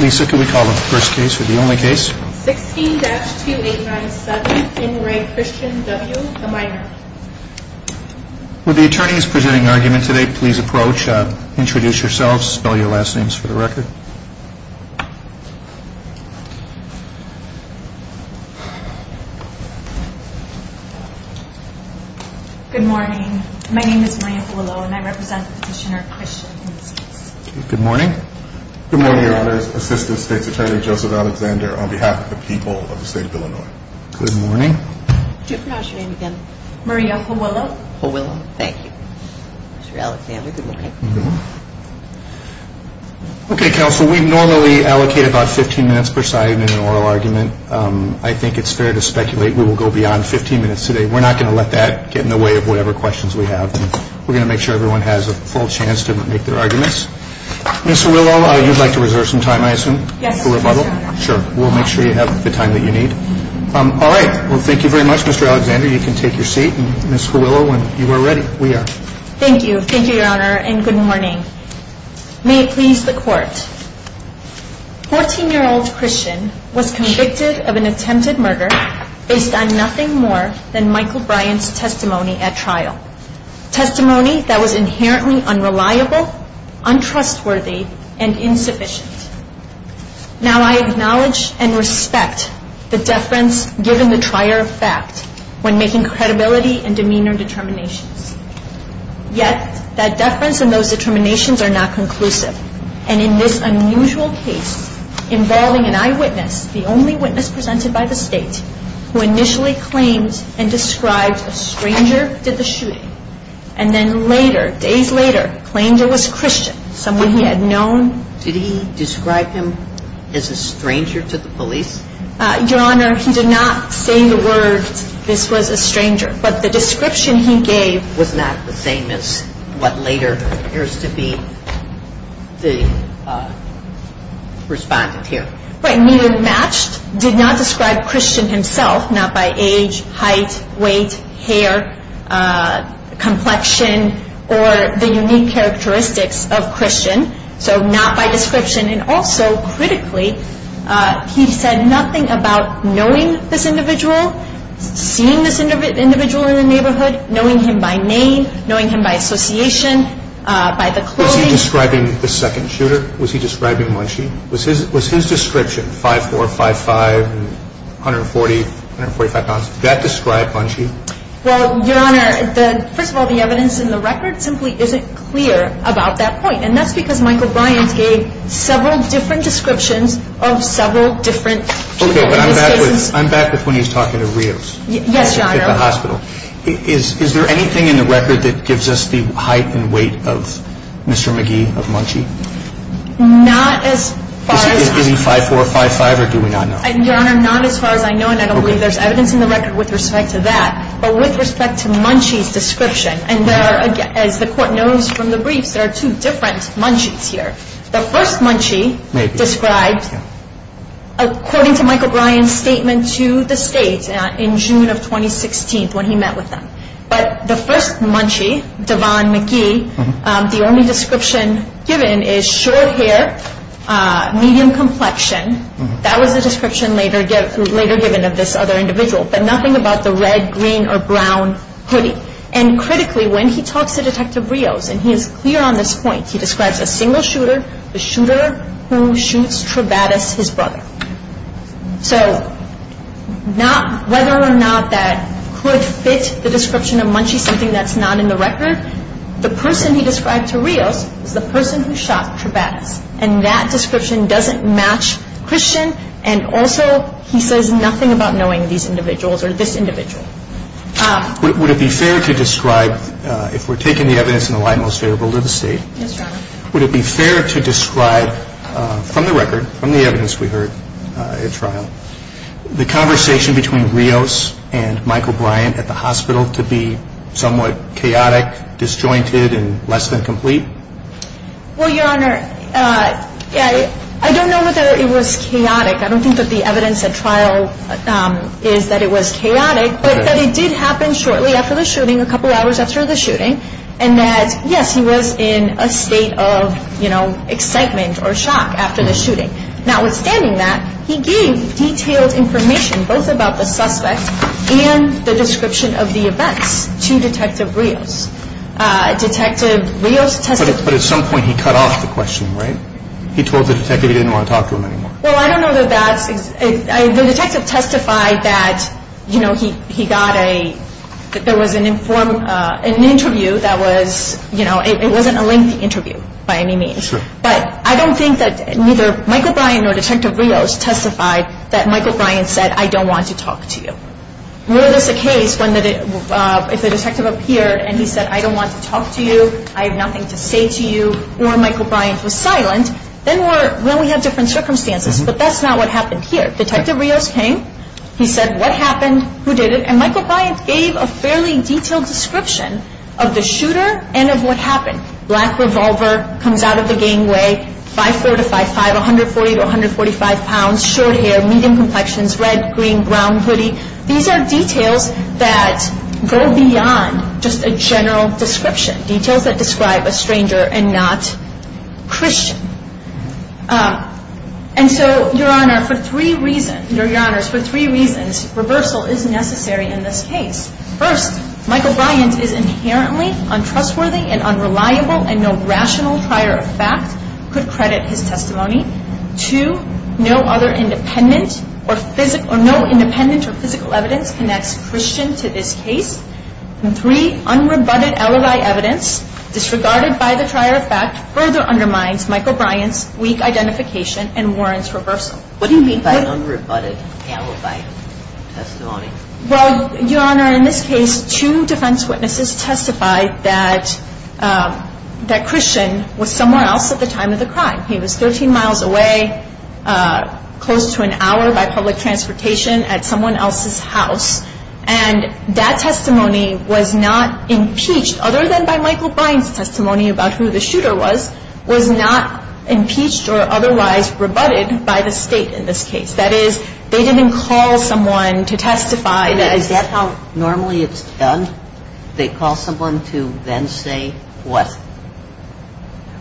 Lisa, can we call the first case or the only case? 16-2897, in re Christian W., a minor. Will the attorneys presenting argument today please approach, introduce yourselves, spell your last names for the record. Good morning. My name is Maria Fualo and I represent the petitioner Christian in this case. Good morning. Good morning, your honors. Assistant State's Attorney Joseph Alexander on behalf of the people of the state of Illinois. Good morning. Could you pronounce your name again? Maria Fualo. Fualo, thank you. Mr. Alexander, good morning. Okay, counsel, we normally allocate about 15 minutes per side in an oral argument. I think it's fair to speculate we will go beyond 15 minutes today. We're not going to let that get in the way of whatever questions we have. We're going to make sure everyone has a full chance to make their arguments. Ms. Fualo, you'd like to reserve some time, I assume, for rebuttal? Yes, sir. Sure. We'll make sure you have the time that you need. All right. Well, thank you very much, Mr. Alexander. You can take your seat. Ms. Fualo, when you are ready, we are. Thank you. Thank you, your honor, and good morning. May it please the court. 14-year-old Christian was convicted of an attempted murder based on nothing more than Michael Bryant's testimony at trial. Testimony that was inherently unreliable, untrustworthy, and insufficient. Now, I acknowledge and respect the deference given the trier of fact when making credibility and demeanor determinations. Yet, that deference and those determinations are not conclusive. And in this unusual case involving an eyewitness, the only witness presented by the State, who initially claimed and described a stranger, did the shooting. And then later, days later, claimed it was Christian, someone he had known. Did he describe him as a stranger to the police? Your honor, he did not say the words, this was a stranger. But the description he gave was not the same as what later appears to be the respondent here. Right, neither matched, did not describe Christian himself, not by age, height, weight, hair, complexion, or the unique characteristics of Christian, so not by description. And also, critically, he said nothing about knowing this individual, seeing this individual in the neighborhood, knowing him by name, knowing him by association, by the clothing. Was he describing the second shooter? Was he describing Munchie? Was his description, 5'4", 5'5", 140, 145 pounds, did that describe Munchie? Well, your honor, first of all, the evidence in the record simply isn't clear about that point. And that's because Michael Bryant gave several different descriptions of several different shooting instances. Okay, but I'm back with when he was talking to Rios. Yes, your honor. At the hospital. Is there anything in the record that gives us the height and weight of Mr. McGee, of Munchie? Not as far as I know. Is he giving 5'4", 5'5", or do we not know? Your honor, not as far as I know, and I don't believe there's evidence in the record with respect to that. But with respect to Munchie's description, and there are, as the court knows from the briefs, there are two different Munchies here. The first Munchie described, according to Michael Bryant's statement to the state in June of 2016 when he met with them. But the first Munchie, Devon McGee, the only description given is short hair, medium complexion. That was the description later given of this other individual. But nothing about the red, green, or brown hoodie. And critically, when he talks to Detective Rios, and he is clear on this point, he describes a single shooter, the shooter who shoots Trebatas, his brother. So whether or not that could fit the description of Munchie, something that's not in the record, the person he described to Rios is the person who shot Trebatas. And that description doesn't match Christian. And also, he says nothing about knowing these individuals or this individual. Would it be fair to describe, if we're taking the evidence in the light most favorable to the state, would it be fair to describe from the record, from the evidence we heard at trial, the conversation between Rios and Michael Bryant at the hospital to be somewhat chaotic, disjointed, and less than complete? Well, Your Honor, I don't know whether it was chaotic. I don't think that the evidence at trial is that it was chaotic. But that it did happen shortly after the shooting, a couple hours after the shooting. And that, yes, he was in a state of, you know, excitement or shock after the shooting. Notwithstanding that, he gave detailed information both about the suspect and the description of the events to Detective Rios. Detective Rios testified. But at some point he cut off the question, right? He told the detective he didn't want to talk to him anymore. Well, I don't know that that's – the detective testified that, you know, he got a – that there was an interview that was – you know, it wasn't a lengthy interview by any means. But I don't think that neither Michael Bryant nor Detective Rios testified that Michael Bryant said, I don't want to talk to you. Were this a case when – if the detective appeared and he said, I don't want to talk to you, I have nothing to say to you, or Michael Bryant was silent, then we're – well, we have different circumstances. But that's not what happened here. Detective Rios came. He said what happened, who did it, and Michael Bryant gave a fairly detailed description of the shooter and of what happened. Black revolver, comes out of the gangway, 5'4"-5'5", 140 to 145 pounds, short hair, medium complexions, red, green, brown hoodie. These are details that go beyond just a general description. Details that describe a stranger and not Christian. And so, Your Honor, for three reasons – Your Honors, for three reasons, reversal is necessary in this case. First, Michael Bryant is inherently untrustworthy and unreliable and no rational prior effect could credit his testimony. Two, no other independent or physical – or no independent or physical evidence connects Christian to this case. And three, unrebutted alibi evidence disregarded by the prior effect further undermines Michael Bryant's weak identification and warrants reversal. What do you mean by unrebutted alibi testimony? Well, Your Honor, in this case, two defense witnesses testified that Christian was somewhere else at the time of the crime. He was 13 miles away, close to an hour by public transportation at someone else's house. And that testimony was not impeached, other than by Michael Bryant's testimony about who the shooter was, was not impeached or otherwise rebutted by the State in this case. That is, they didn't call someone to testify. Is that how normally it's done? They call someone to then say what?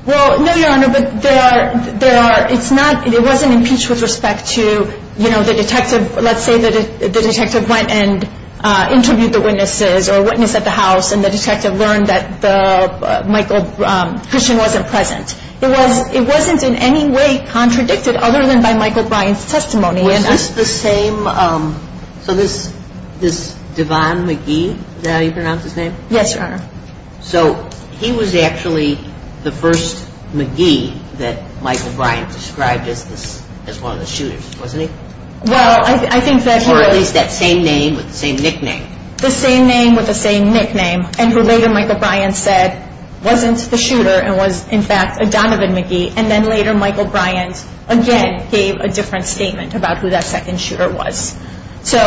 Well, no, Your Honor, but there are – it's not – it wasn't impeached with respect to, you know, the detective –– and interview the witnesses or witness at the house, and the detective learned that the – Michael – Christian wasn't present. It was – it wasn't in any way contradicted, other than by Michael Bryant's testimony. Was this the same – so this – this Devon McGee, is that how you pronounce his name? Yes, Your Honor. So he was actually the first McGee that Michael Bryant described as this – as one of the shooters, wasn't he? Well, I think that he was – Or at least that same name with the same nickname. The same name with the same nickname, and who later Michael Bryant said wasn't the shooter and was, in fact, a Donovan McGee, and then later Michael Bryant again gave a different statement about who that second shooter was. So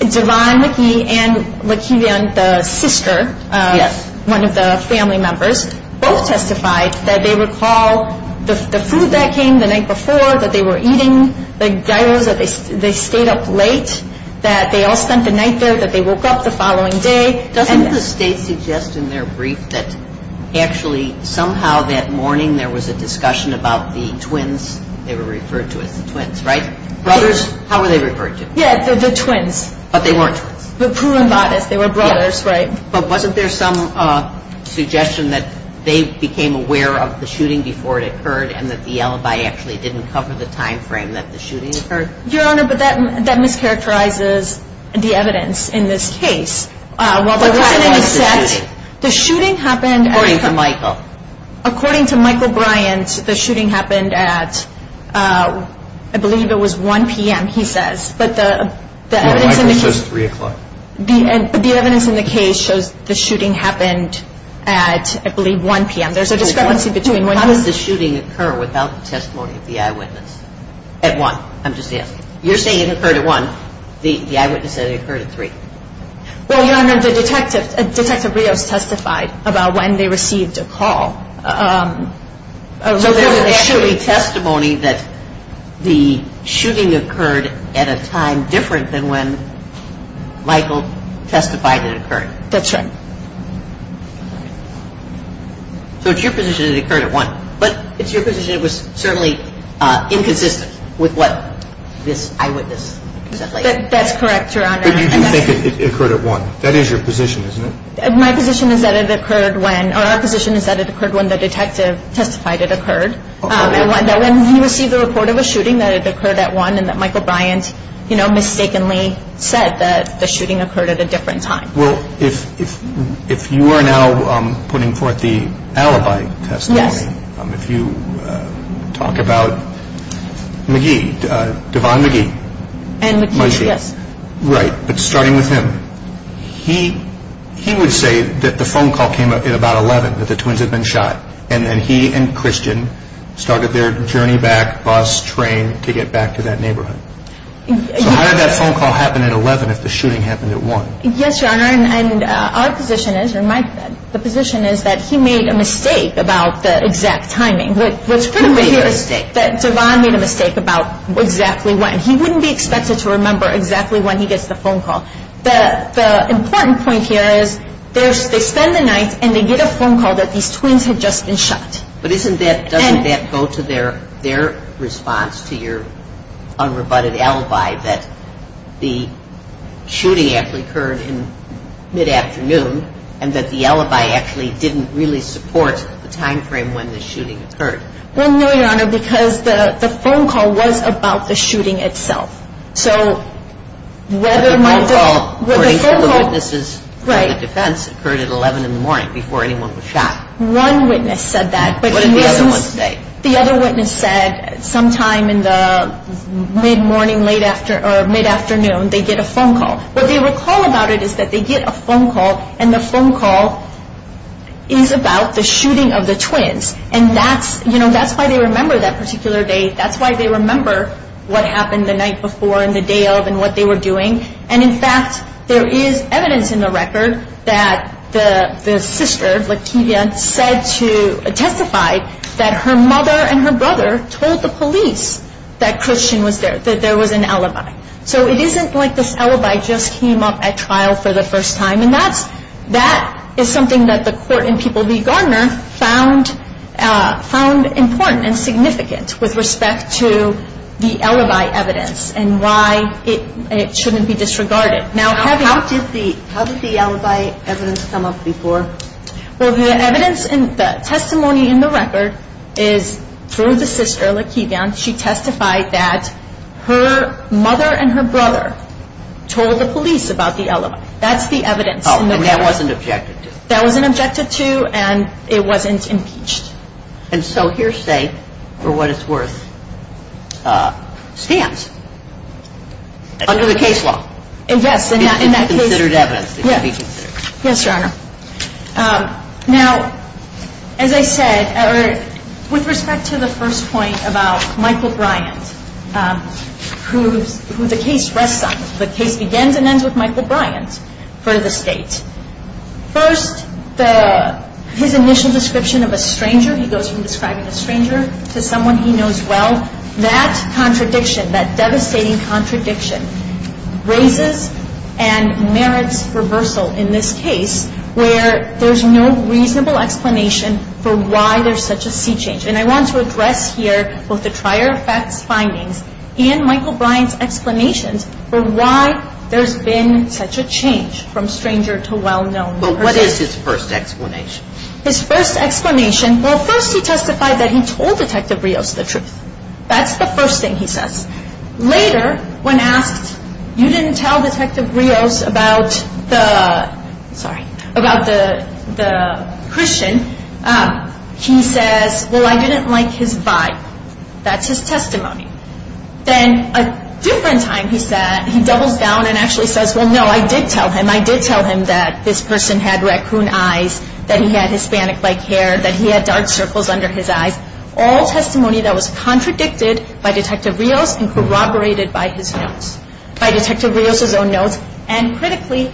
Devon McGee and La'Kevion, the sister – Yes. – one of the family members, both testified that they recall the food that came the night before, that they were eating the gyros, that they stayed up late, that they all spent the night there, that they woke up the following day. Doesn't – And the state suggests in their brief that actually somehow that morning there was a discussion about the twins. They were referred to as the twins, right? Brothers. How were they referred to? Yes, the twins. But they weren't twins. But prurin bodice. They were brothers, right? Yes. But wasn't there some suggestion that they became aware of the shooting before it occurred and that the alibi actually didn't cover the time frame that the shooting occurred? Your Honor, but that mischaracterizes the evidence in this case. Well, there wasn't any set – What time was the shooting? The shooting happened at – According to Michael. According to Michael Bryant, the shooting happened at, I believe it was 1 p.m., he says. But the evidence in the case – No, Michael says 3 o'clock. The evidence in the case shows the shooting happened at, I believe, 1 p.m. There's a discrepancy between when – When did the shooting occur without the testimony of the eyewitness? At 1. I'm just asking. You're saying it occurred at 1. The eyewitness said it occurred at 3. Well, Your Honor, the detective, Detective Rios testified about when they received a call. So there's a shooting testimony that the shooting occurred at a time different than when Michael testified it occurred. That's right. So it's your position it occurred at 1. But it's your position it was certainly inconsistent with what this eyewitness said later. That's correct, Your Honor. But you do think it occurred at 1. That is your position, isn't it? My position is that it occurred when – or our position is that it occurred when the detective testified it occurred. And when he received the report of a shooting, that it occurred at 1, and that Michael Bryant, you know, mistakenly said that the shooting occurred at a different time. Well, if you are now putting forth the alibi testimony, if you talk about McGee, Devon McGee. And McGee, yes. Right. But starting with him, he would say that the phone call came at about 11, that the twins had been shot. And then he and Christian started their journey back, bus, train, to get back to that neighborhood. So how did that phone call happen at 11 if the shooting happened at 1? Yes, Your Honor. And our position is – or my position is that he made a mistake about the exact timing. What's critical here is that Devon made a mistake about exactly when. He wouldn't be expected to remember exactly when he gets the phone call. The important point here is they spend the night and they get a phone call that these twins had just been shot. But isn't that – doesn't that go to their response to your unrebutted alibi, that the shooting actually occurred in mid-afternoon and that the alibi actually didn't really support the timeframe when the shooting occurred? Well, no, Your Honor, because the phone call was about the shooting itself. So whether – But the phone call, according to the witnesses on the defense, occurred at 11 in the morning before anyone was shot. One witness said that. What did the other one say? The other witness said sometime in the mid-morning, late afternoon – or mid-afternoon, they get a phone call. What they recall about it is that they get a phone call, and the phone call is about the shooting of the twins. And that's – you know, that's why they remember that particular day. That's why they remember what happened the night before and the day of and what they were doing. And, in fact, there is evidence in the record that the sister, Lativia, said to – testified that her mother and her brother told the police that Christian was there, that there was an alibi. So it isn't like this alibi just came up at trial for the first time. And that's – that is something that the court in People v. Gardner found important and significant with respect to the alibi evidence and why it shouldn't be disregarded. How did the alibi evidence come up before? Well, the evidence – the testimony in the record is through the sister, Lativia. She testified that her mother and her brother told the police about the alibi. That's the evidence. Oh, and that wasn't objected to. That wasn't objected to, and it wasn't impeached. And so hearsay for what it's worth stands under the case law. Yes. It's considered evidence. Yes, Your Honor. Now, as I said, with respect to the first point about Michael Bryant, who the case rests on, the case begins and ends with Michael Bryant for the state. First, the – his initial description of a stranger, he goes from describing a stranger to someone he knows well. That contradiction, that devastating contradiction, raises and merits reversal in this case where there's no reasonable explanation for why there's such a sea change. And I want to address here both the prior facts findings and Michael Bryant's explanations for why there's been such a change from stranger to well-known person. Well, what is his first explanation? His first explanation – well, first he testified that he told Detective Rios the truth. That's the first thing he says. Later, when asked, you didn't tell Detective Rios about the – sorry – about the Christian, he says, well, I didn't like his vibe. That's his testimony. Then a different time, he said – he doubles down and actually says, well, no, I did tell him. I did tell him that this person had raccoon eyes, that he had Hispanic-like hair, that he had dark circles under his eyes. All testimony that was contradicted by Detective Rios and corroborated by his notes – by Detective Rios's own notes, and critically,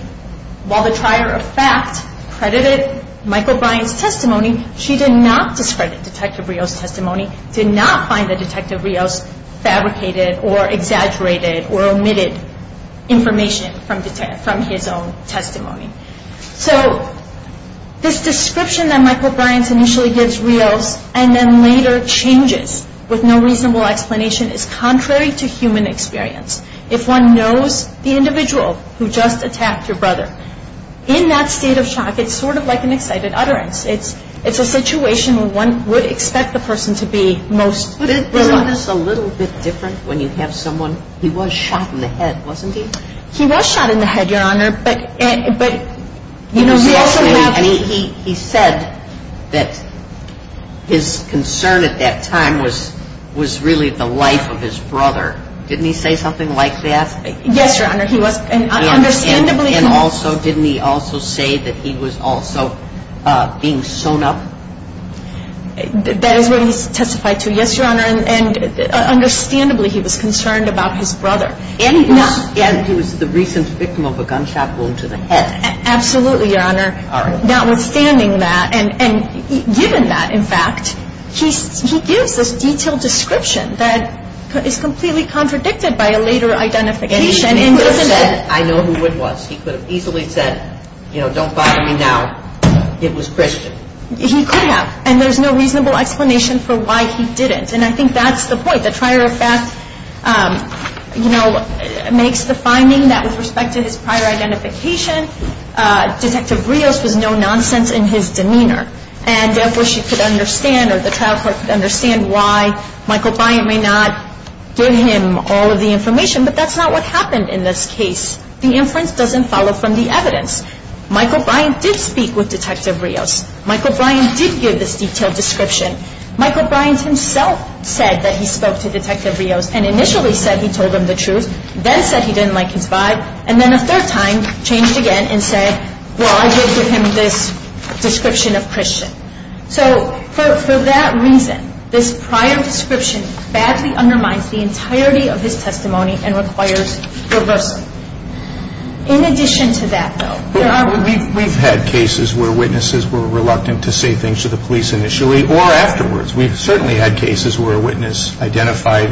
while the prior effect credited Michael Bryant's testimony, she did not discredit Detective Rios's testimony, did not find that Detective Rios fabricated or exaggerated or omitted information from his own testimony. So this description that Michael Bryant initially gives Rios and then later changes with no reasonable explanation is contrary to human experience. If one knows the individual who just attacked your brother, in that state of shock, it's sort of like an excited utterance. It's a situation where one would expect the person to be most – Isn't this a little bit different when you have someone – he was shot in the head, wasn't he? He was shot in the head, Your Honor, but, you know, we also have – And he said that his concern at that time was really the life of his brother. Didn't he say something like that? Yes, Your Honor, he was – and understandably – And also, didn't he also say that he was also being sewn up? That is what he testified to. Yes, Your Honor, and understandably, he was concerned about his brother. And he was the recent victim of a gunshot wound to the head. Absolutely, Your Honor. All right. Notwithstanding that, and given that, in fact, he gives this detailed description that is completely contradicted by a later identification. He could have said, I know who it was. He could have easily said, you know, don't bother me now. It was Christian. He could have. And there's no reasonable explanation for why he didn't. And I think that's the point. The trial report, you know, makes the finding that with respect to his prior identification, Detective Rios was no nonsense in his demeanor. And therefore, she could understand or the trial court could understand why Michael Byant may not give him all of the information. But that's not what happened in this case. The inference doesn't follow from the evidence. Michael Byant did speak with Detective Rios. Michael Byant did give this detailed description. Michael Byant himself said that he spoke to Detective Rios and initially said he told him the truth, then said he didn't like his vibe, and then a third time changed again and said, well, I did give him this description of Christian. So for that reason, this prior description badly undermines the entirety of his testimony and requires reversing. In addition to that, though, there are... We've had cases where witnesses were reluctant to say things to the police initially or afterwards. We've certainly had cases where a witness identified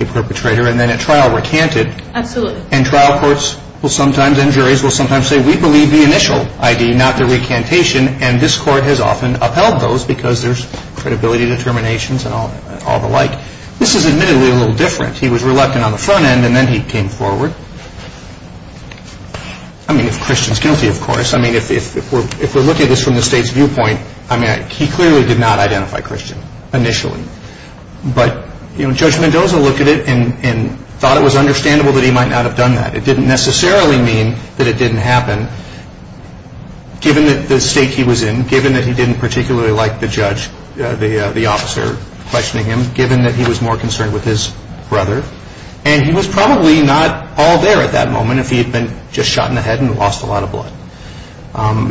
a perpetrator and then at trial recanted. Absolutely. And trial courts will sometimes and juries will sometimes say, we believe the initial ID, not the recantation, and this court has often upheld those because there's credibility determinations and all the like. This is admittedly a little different. He was reluctant on the front end and then he came forward. I mean, if Christian's guilty, of course. I mean, if we're looking at this from the state's viewpoint, I mean, he clearly did not identify Christian initially. But Judge Mendoza looked at it and thought it was understandable that he might not have done that. It didn't necessarily mean that it didn't happen, given the state he was in, given that he didn't particularly like the judge, the officer questioning him, given that he was more concerned with his brother. And he was probably not all there at that moment if he had been just shot in the head and lost a lot of blood.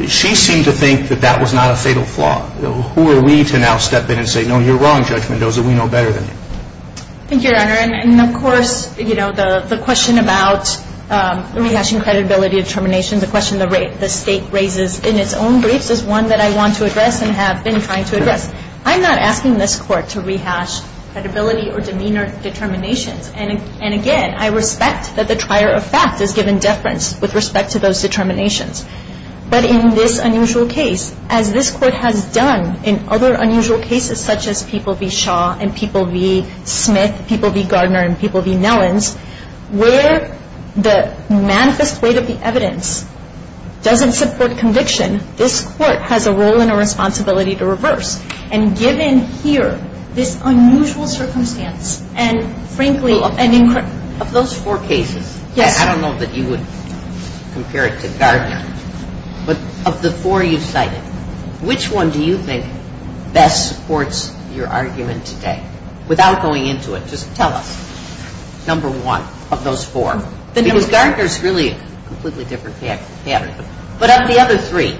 She seemed to think that that was not a fatal flaw. Who are we to now step in and say, no, you're wrong, Judge Mendoza, we know better than you. Thank you, Your Honor. And, of course, you know, the question about rehashing credibility determinations, a question the state raises in its own briefs is one that I want to address and have been trying to address. I'm not asking this Court to rehash credibility or demeanor determinations. And, again, I respect that the trier of fact is given deference with respect to those determinations. But in this unusual case, as this Court has done in other unusual cases, such as people v. Shaw and people v. Smith, people v. Gardner, and people v. Nellens, where the manifest weight of the evidence doesn't support conviction, this Court has a role and a responsibility to reverse. And given here this unusual circumstance, and, frankly, and in – Of those four cases – Yes. I don't know that you would compare it to Gardner. But of the four you cited, which one do you think best supports your argument today? Without going into it, just tell us number one of those four. Because Gardner's really a completely different pattern. But of the other three.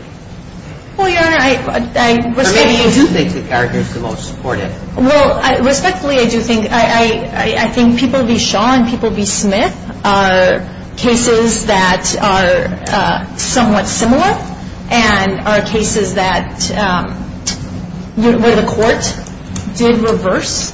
Well, Your Honor, I – Or maybe you do think that Gardner's the most supportive. Well, respectfully, I do think – I think people v. Shaw and people v. Smith are cases that are somewhat similar and are cases that – where the Court did reverse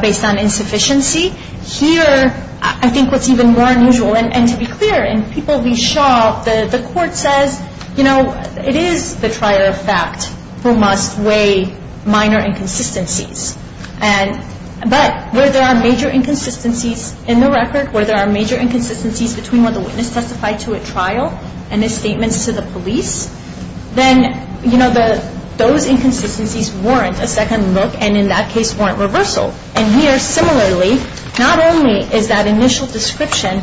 based on insufficiency. Here, I think what's even more unusual, and to be clear, in people v. Shaw, the Court says, you know, it is the trier of fact who must weigh minor inconsistencies. And – but where there are major inconsistencies in the record, where there are major inconsistencies between what the witness testified to at trial and his statements to the police, then, you know, those inconsistencies warrant a second look and, in that case, warrant reversal. And here, similarly, not only is that initial description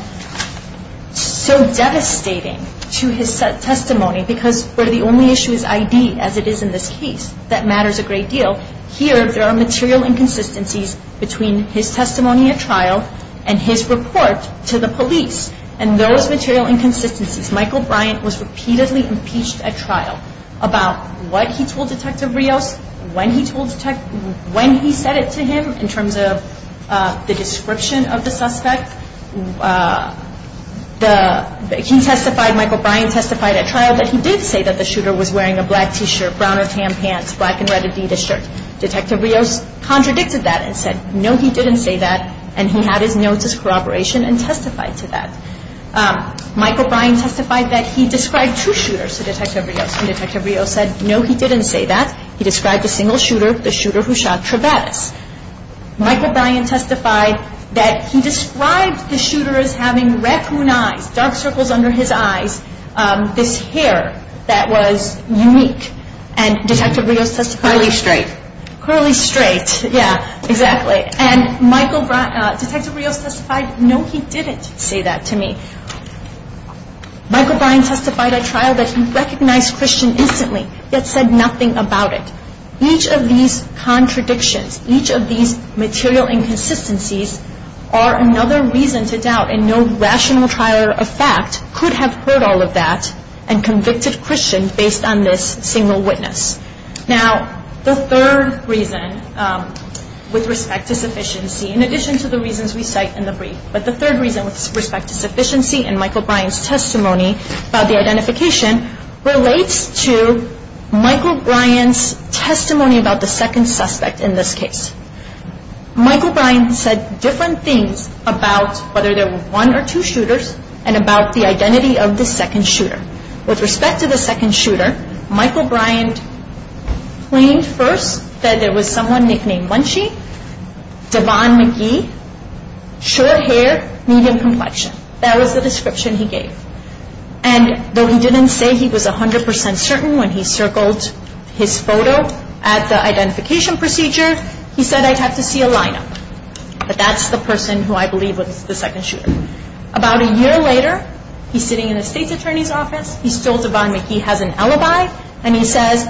so devastating to his testimony, because where the only issue is ID, as it is in this case, that matters a great deal. Here, there are material inconsistencies between his testimony at trial and his report to the police. And those material inconsistencies – Michael Bryant was repeatedly impeached at trial about what he told Detective Rios, when he told – when he said it to him in terms of the description of the suspect. The – he testified – Michael Bryant testified at trial that he did say that the shooter was wearing a black T-shirt, brown or tan pants, black and red Adidas shirt. Detective Rios contradicted that and said, no, he didn't say that, and he had his notes as corroboration and testified to that. Michael Bryant testified that he described two shooters to Detective Rios, and Detective Rios said, no, he didn't say that. He described a single shooter, the shooter who shot Trevettis. Michael Bryant testified that he described the shooter as having raccoon eyes, dark circles under his eyes, this hair that was unique. And Detective Rios testified – Curly straight. Curly straight, yeah, exactly. And Michael – Detective Rios testified, no, he didn't say that to me. Michael Bryant testified at trial that he recognized Christian instantly, yet said nothing about it. Each of these contradictions, each of these material inconsistencies, are another reason to doubt, and no rational trial of fact could have heard all of that and convicted Christian based on this single witness. Now, the third reason with respect to sufficiency, in addition to the reasons we cite in the brief, but the third reason with respect to sufficiency in Michael Bryant's testimony about the identification relates to Michael Bryant's testimony about the second suspect in this case. Michael Bryant said different things about whether there were one or two shooters and about the identity of the second shooter. With respect to the second shooter, Michael Bryant claimed first that there was someone nicknamed Bunchy, Devon McGee, short hair, medium complexion. That was the description he gave. And though he didn't say he was 100% certain when he circled his photo at the identification procedure, he said, I'd have to see a lineup. But that's the person who I believe was the second shooter. About a year later, he's sitting in the state's attorney's office, he's told Devon McGee has an alibi, and he says,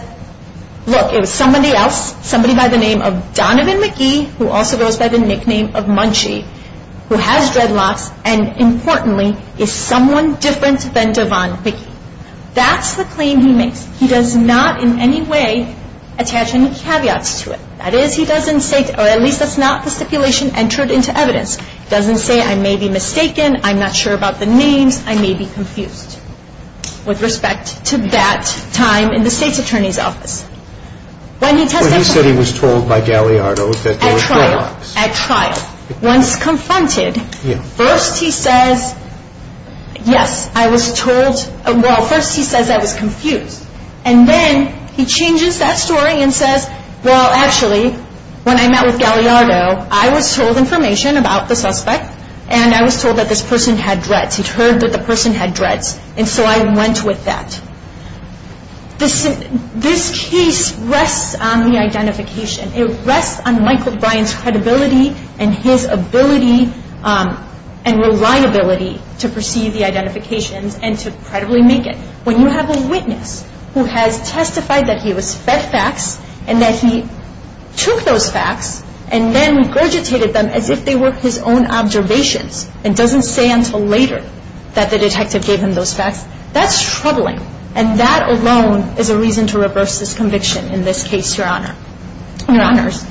look, it was somebody else, somebody by the name of Donovan McGee, who also goes by the nickname of Munchy, who has dreadlocks, and importantly, is someone different than Devon McGee. That's the claim he makes. He does not in any way attach any caveats to it. That is, he doesn't say, or at least that's not the stipulation entered into evidence. He doesn't say, I may be mistaken, I'm not sure about the names, I may be confused. With respect to that time in the state's attorney's office. But he said he was told by Galliardo that there were dreadlocks. At trial. At trial. Once confronted, first he says, yes, I was told, well, first he says I was confused. And then he changes that story and says, well, actually, when I met with Galliardo, I was told information about the suspect, and I was told that this person had dreads. He'd heard that the person had dreads. And so I went with that. This case rests on the identification. It rests on Michael Bryan's credibility and his ability and reliability to perceive the identifications and to credibly make it. When you have a witness who has testified that he was fed facts and that he took those facts and then regurgitated them as if they were his own observations and doesn't say until later that the detective gave him those facts, that's troubling. And that alone is a reason to reverse this conviction in this case, Your Honors.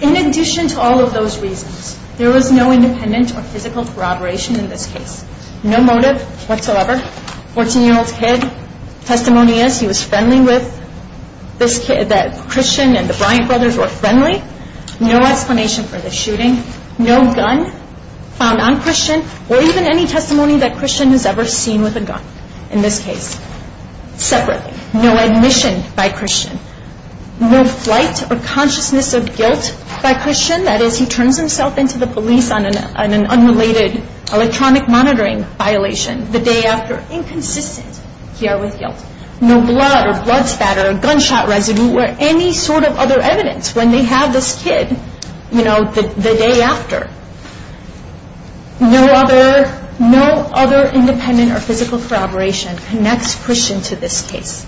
In addition to all of those reasons, there was no independent or physical corroboration in this case. No motive whatsoever. Fourteen-year-old kid. Testimony is he was friendly with this kid, that Christian and the Bryan brothers were friendly. No explanation for the shooting. No gun found on Christian or even any testimony that Christian has ever seen with a gun in this case. Separately. No admission by Christian. No flight or consciousness of guilt by Christian. That is, he turns himself in to the police on an unrelated electronic monitoring violation the day after. Inconsistent here with guilt. No blood or blood spat or gunshot residue or any sort of other evidence when they have this kid. The day after. No other independent or physical corroboration connects Christian to this case.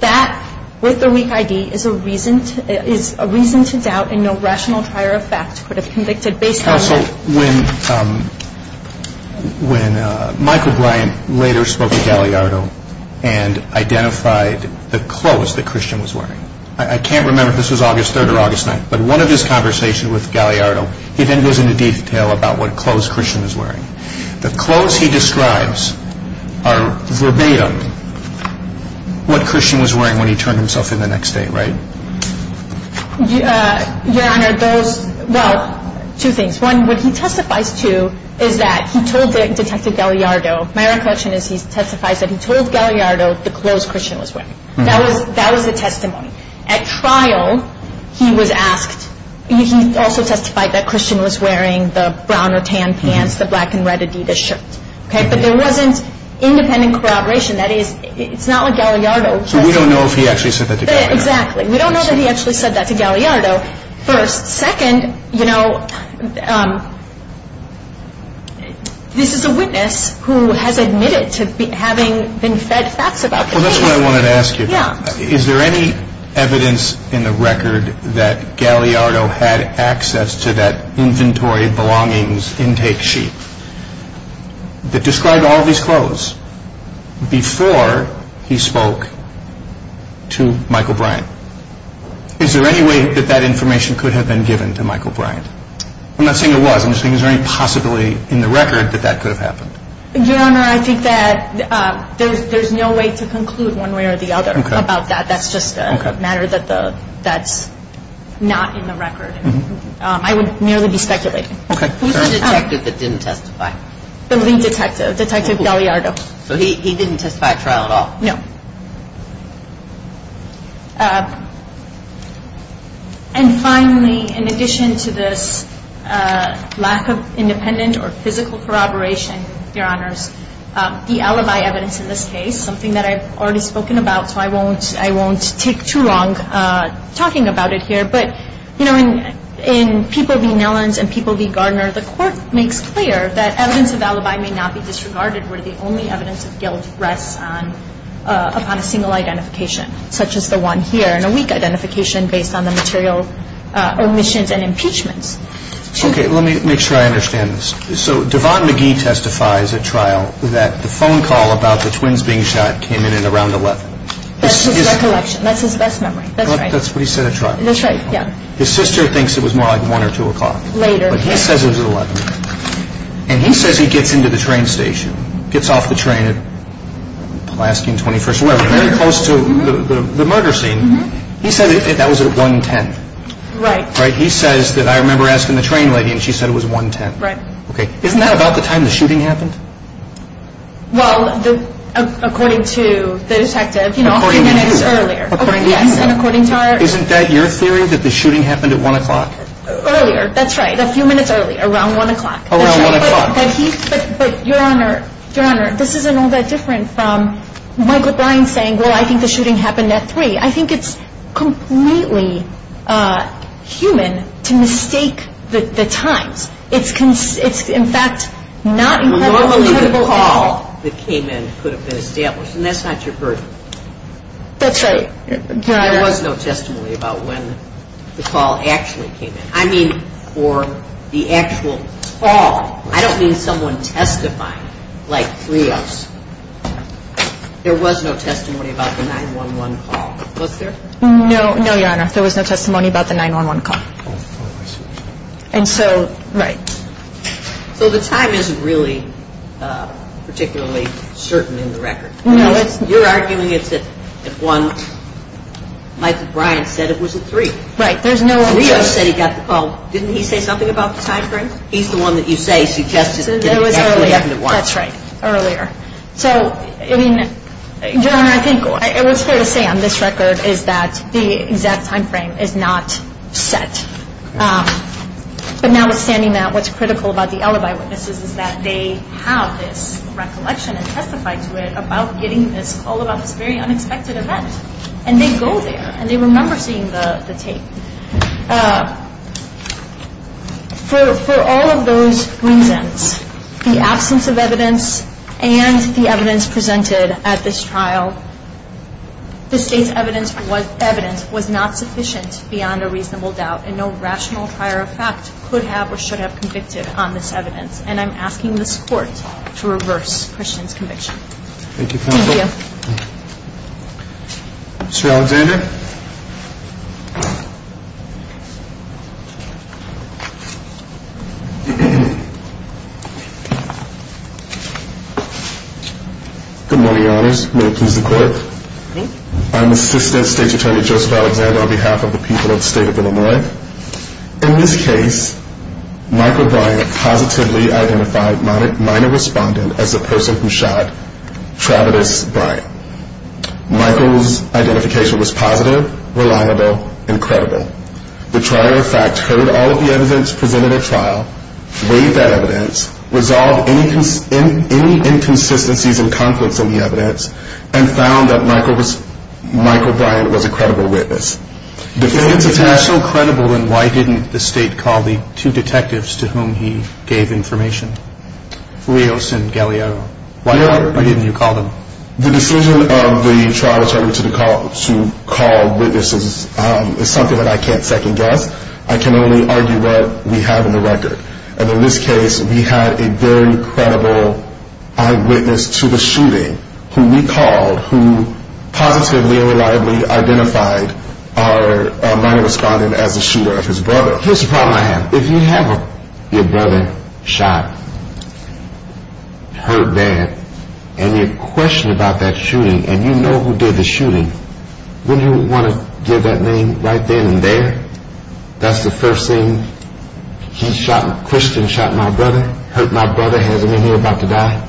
That, with the weak ID, is a reason to doubt and no rational prior effect could have convicted based on that. Counsel, when Michael Bryan later spoke to Galliardo and identified the clothes that Christian was wearing, I can't remember if this was August 3rd or August 9th, but one of his conversations with Galliardo, he then goes into detail about what clothes Christian was wearing. The clothes he describes are verbatim what Christian was wearing when he turned himself in the next day, right? Your Honor, those, well, two things. One, what he testifies to is that he told Detective Galliardo, my recollection is he testifies that he told Galliardo the clothes Christian was wearing. That was the testimony. At trial, he was asked, he also testified that Christian was wearing the brown or tan pants, the black and red Adidas shirt, okay? But there wasn't independent corroboration. That is, it's not like Galliardo. So we don't know if he actually said that to Galliardo. We don't know that he actually said that to Galliardo, first. Second, you know, this is a witness who has admitted to having been fed facts about Christian. Well, that's what I wanted to ask you. Yeah. Is there any evidence in the record that Galliardo had access to that inventory belongings intake sheet that described all of his clothes before he spoke to Michael Bryant? Is there any way that that information could have been given to Michael Bryant? I'm not saying there was. I'm just saying is there any possibility in the record that that could have happened? Your Honor, I think that there's no way to conclude one way or the other about that. That's just a matter that's not in the record. I would merely be speculating. Okay. Who's the detective that didn't testify? The lead detective, Detective Galliardo. So he didn't testify at trial at all? No. And finally, in addition to this lack of independent or physical corroboration, Your Honors, the alibi evidence in this case, something that I've already spoken about, so I won't take too long talking about it here. But, you know, in People v. Nellens and People v. Gardner, the court makes clear that evidence of alibi may not be disregarded where the only evidence of guilt rests upon a single identification, such as the one here, and a weak identification based on the material omissions and impeachments. Okay. Let me make sure I understand this. So Devon McGee testifies at trial that the phone call about the twins being shot came in at around 11. That's his recollection. That's his best memory. That's right. That's what he said at trial. That's right. Yeah. His sister thinks it was more like 1 or 2 o'clock. Later. But he says it was at 11. And he says he gets into the train station, gets off the train at Pulaski and 21st. We're very close to the murder scene. He said that was at 1.10. Right. Right. He says that I remember asking the train lady, and she said it was 1.10. Right. Okay. Isn't that about the time the shooting happened? Well, according to the detective, you know, a few minutes earlier. According to you. Yes. And according to our... Isn't that your theory, that the shooting happened at 1 o'clock? Earlier. Earlier. That's right. A few minutes earlier. Around 1 o'clock. Around 1 o'clock. But, Your Honor, this isn't all that different from Michael Brine saying, well, I think the shooting happened at 3. I think it's completely human to mistake the times. It's, in fact, not incredibly credible evidence. Normally the call that came in could have been established, and that's not your burden. That's right. There was no testimony about when the call actually came in. I mean, for the actual call. I don't mean someone testifying like Cleos. There was no testimony about the 911 call. Was there? No. No, Your Honor. There was no testimony about the 911 call. And so... Right. So the time isn't really particularly certain in the record. No. You're arguing it's at 1. Michael Brine said it was at 3. Right. There's no... Cleos said he got the call. Didn't he say something about the time frame? He's the one that you say suggested it actually happened at 1. It was earlier. That's right. Earlier. So, I mean, Your Honor, I think it was fair to say on this record is that the exact time frame is not set. But now withstanding that, what's critical about the alibi witnesses is that they have this recollection and testified to it about getting this call about this very unexpected event. And they go there. And they remember seeing the tape. For all of those reasons, the absence of evidence and the evidence presented at this trial, the State's evidence was not sufficient beyond a reasonable doubt. And no rational prior effect could have or should have convicted on this evidence. And I'm asking this Court to reverse Christian's conviction. Thank you, counsel. Thank you. Mr. Alexander? Good morning, Your Honors. May it please the Court. I'm Assistant State's Attorney, Joseph Alexander, on behalf of the people of the State of Illinois. In this case, Michael Bryant positively identified minor respondent as the person who shot Travidus Bryant. Michael's identification was positive. reliable, and credible. The trial, in fact, heard all of the evidence presented at trial, weighed that evidence, resolved any inconsistencies and conflicts in the evidence, and found that Michael Bryant was a credible witness. If he was so credible, then why didn't the State call the two detectives to whom he gave information, Leos and Galeano? Why didn't you call them? The decision of the trial attorney to call witnesses is something that I can't second-guess. I can only argue what we have in the record. And in this case, we had a very credible eyewitness to the shooting, who we called, who positively and reliably identified our minor respondent as the shooter of his brother. Here's the problem I have. If you have your brother shot, hurt bad, and you question about that shooting, and you know who did the shooting, wouldn't you want to give that name right then and there? That's the first thing. He shot, Christian shot my brother, hurt my brother, has him in here about to die?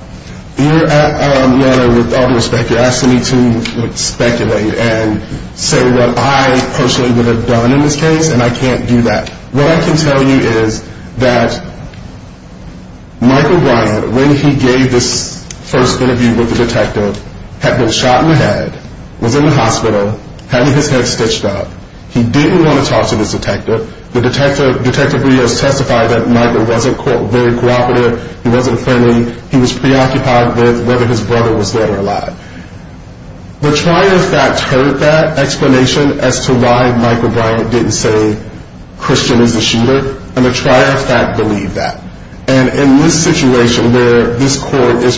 You're at a level with all due respect. You're asking me to speculate and say what I personally would have done in this case, and I can't do that. What I can tell you is that Michael Bryant, when he gave this first interview with the detective, had been shot in the head, was in the hospital, had his head stitched up. He didn't want to talk to this detective. The Detective Leos testified that Michael wasn't very cooperative. He wasn't friendly. He was preoccupied with whether his brother was dead or alive. The trial of fact heard that explanation as to why Michael Bryant didn't say Christian is the shooter, and the trial of fact believed that. And in this situation where this court is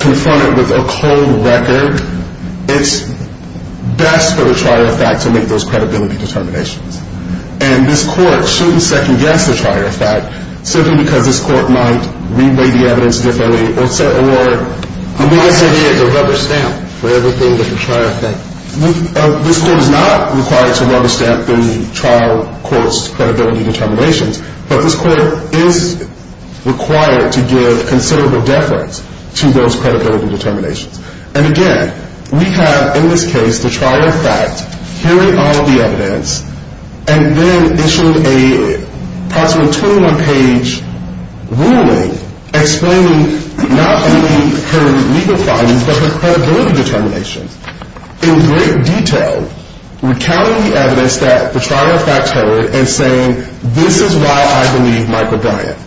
confronted with a cold record, it's best for the trial of fact to make those credibility determinations. And this court shouldn't second-guess the trial of fact simply because this court might re-weigh the evidence differently, or... The biggest idea is a rubber stamp for everything that the trial of fact... This court is not required to rubber stamp the trial of court's credibility determinations, but this court is required to give considerable deference to those credibility determinations. And again, we have in this case the trial of fact hearing all the evidence and then possible 21-page ruling explaining not only her legal findings, but her credibility determinations in great detail, recounting the evidence that the trial of fact heard and saying, this is why I believe Michael Bryant.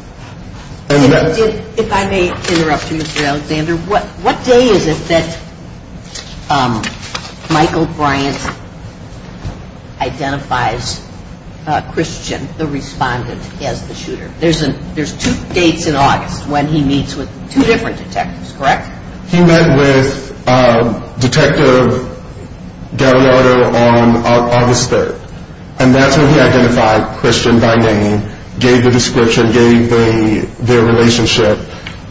If I may interrupt you, Mr. Alexander. What day is it that Michael Bryant identifies Christian, the respondent, as the shooter? There's two dates in August when he meets with two different detectives, correct? He met with Detective Gallardo on August 3rd, and that's when he identified Christian by name, gave the description, gave their relationship,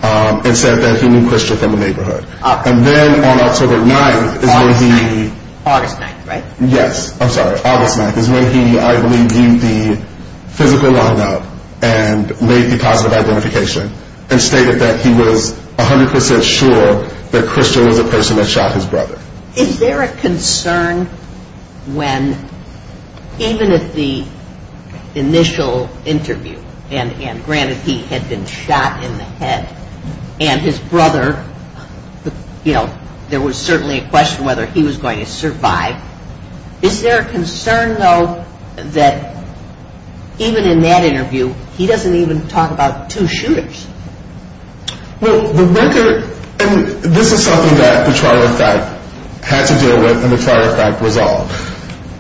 and said that he knew Christian from the neighborhood. And then on October 9th is when he... August 9th, right? Yes. I'm sorry. August 9th is when he, I believe, viewed the physical line-up and made the positive identification and stated that he was 100% sure that Christian was the person that shot his brother. Is there a concern when, even if the initial interview, and granted he had been shot in the head, and his brother, you know, there was certainly a question whether he was going to survive. Is there a concern, though, that even in that interview, he doesn't even talk about two shooters? Well, the record, and this is something that the trial effect had to deal with and the trial effect resolved.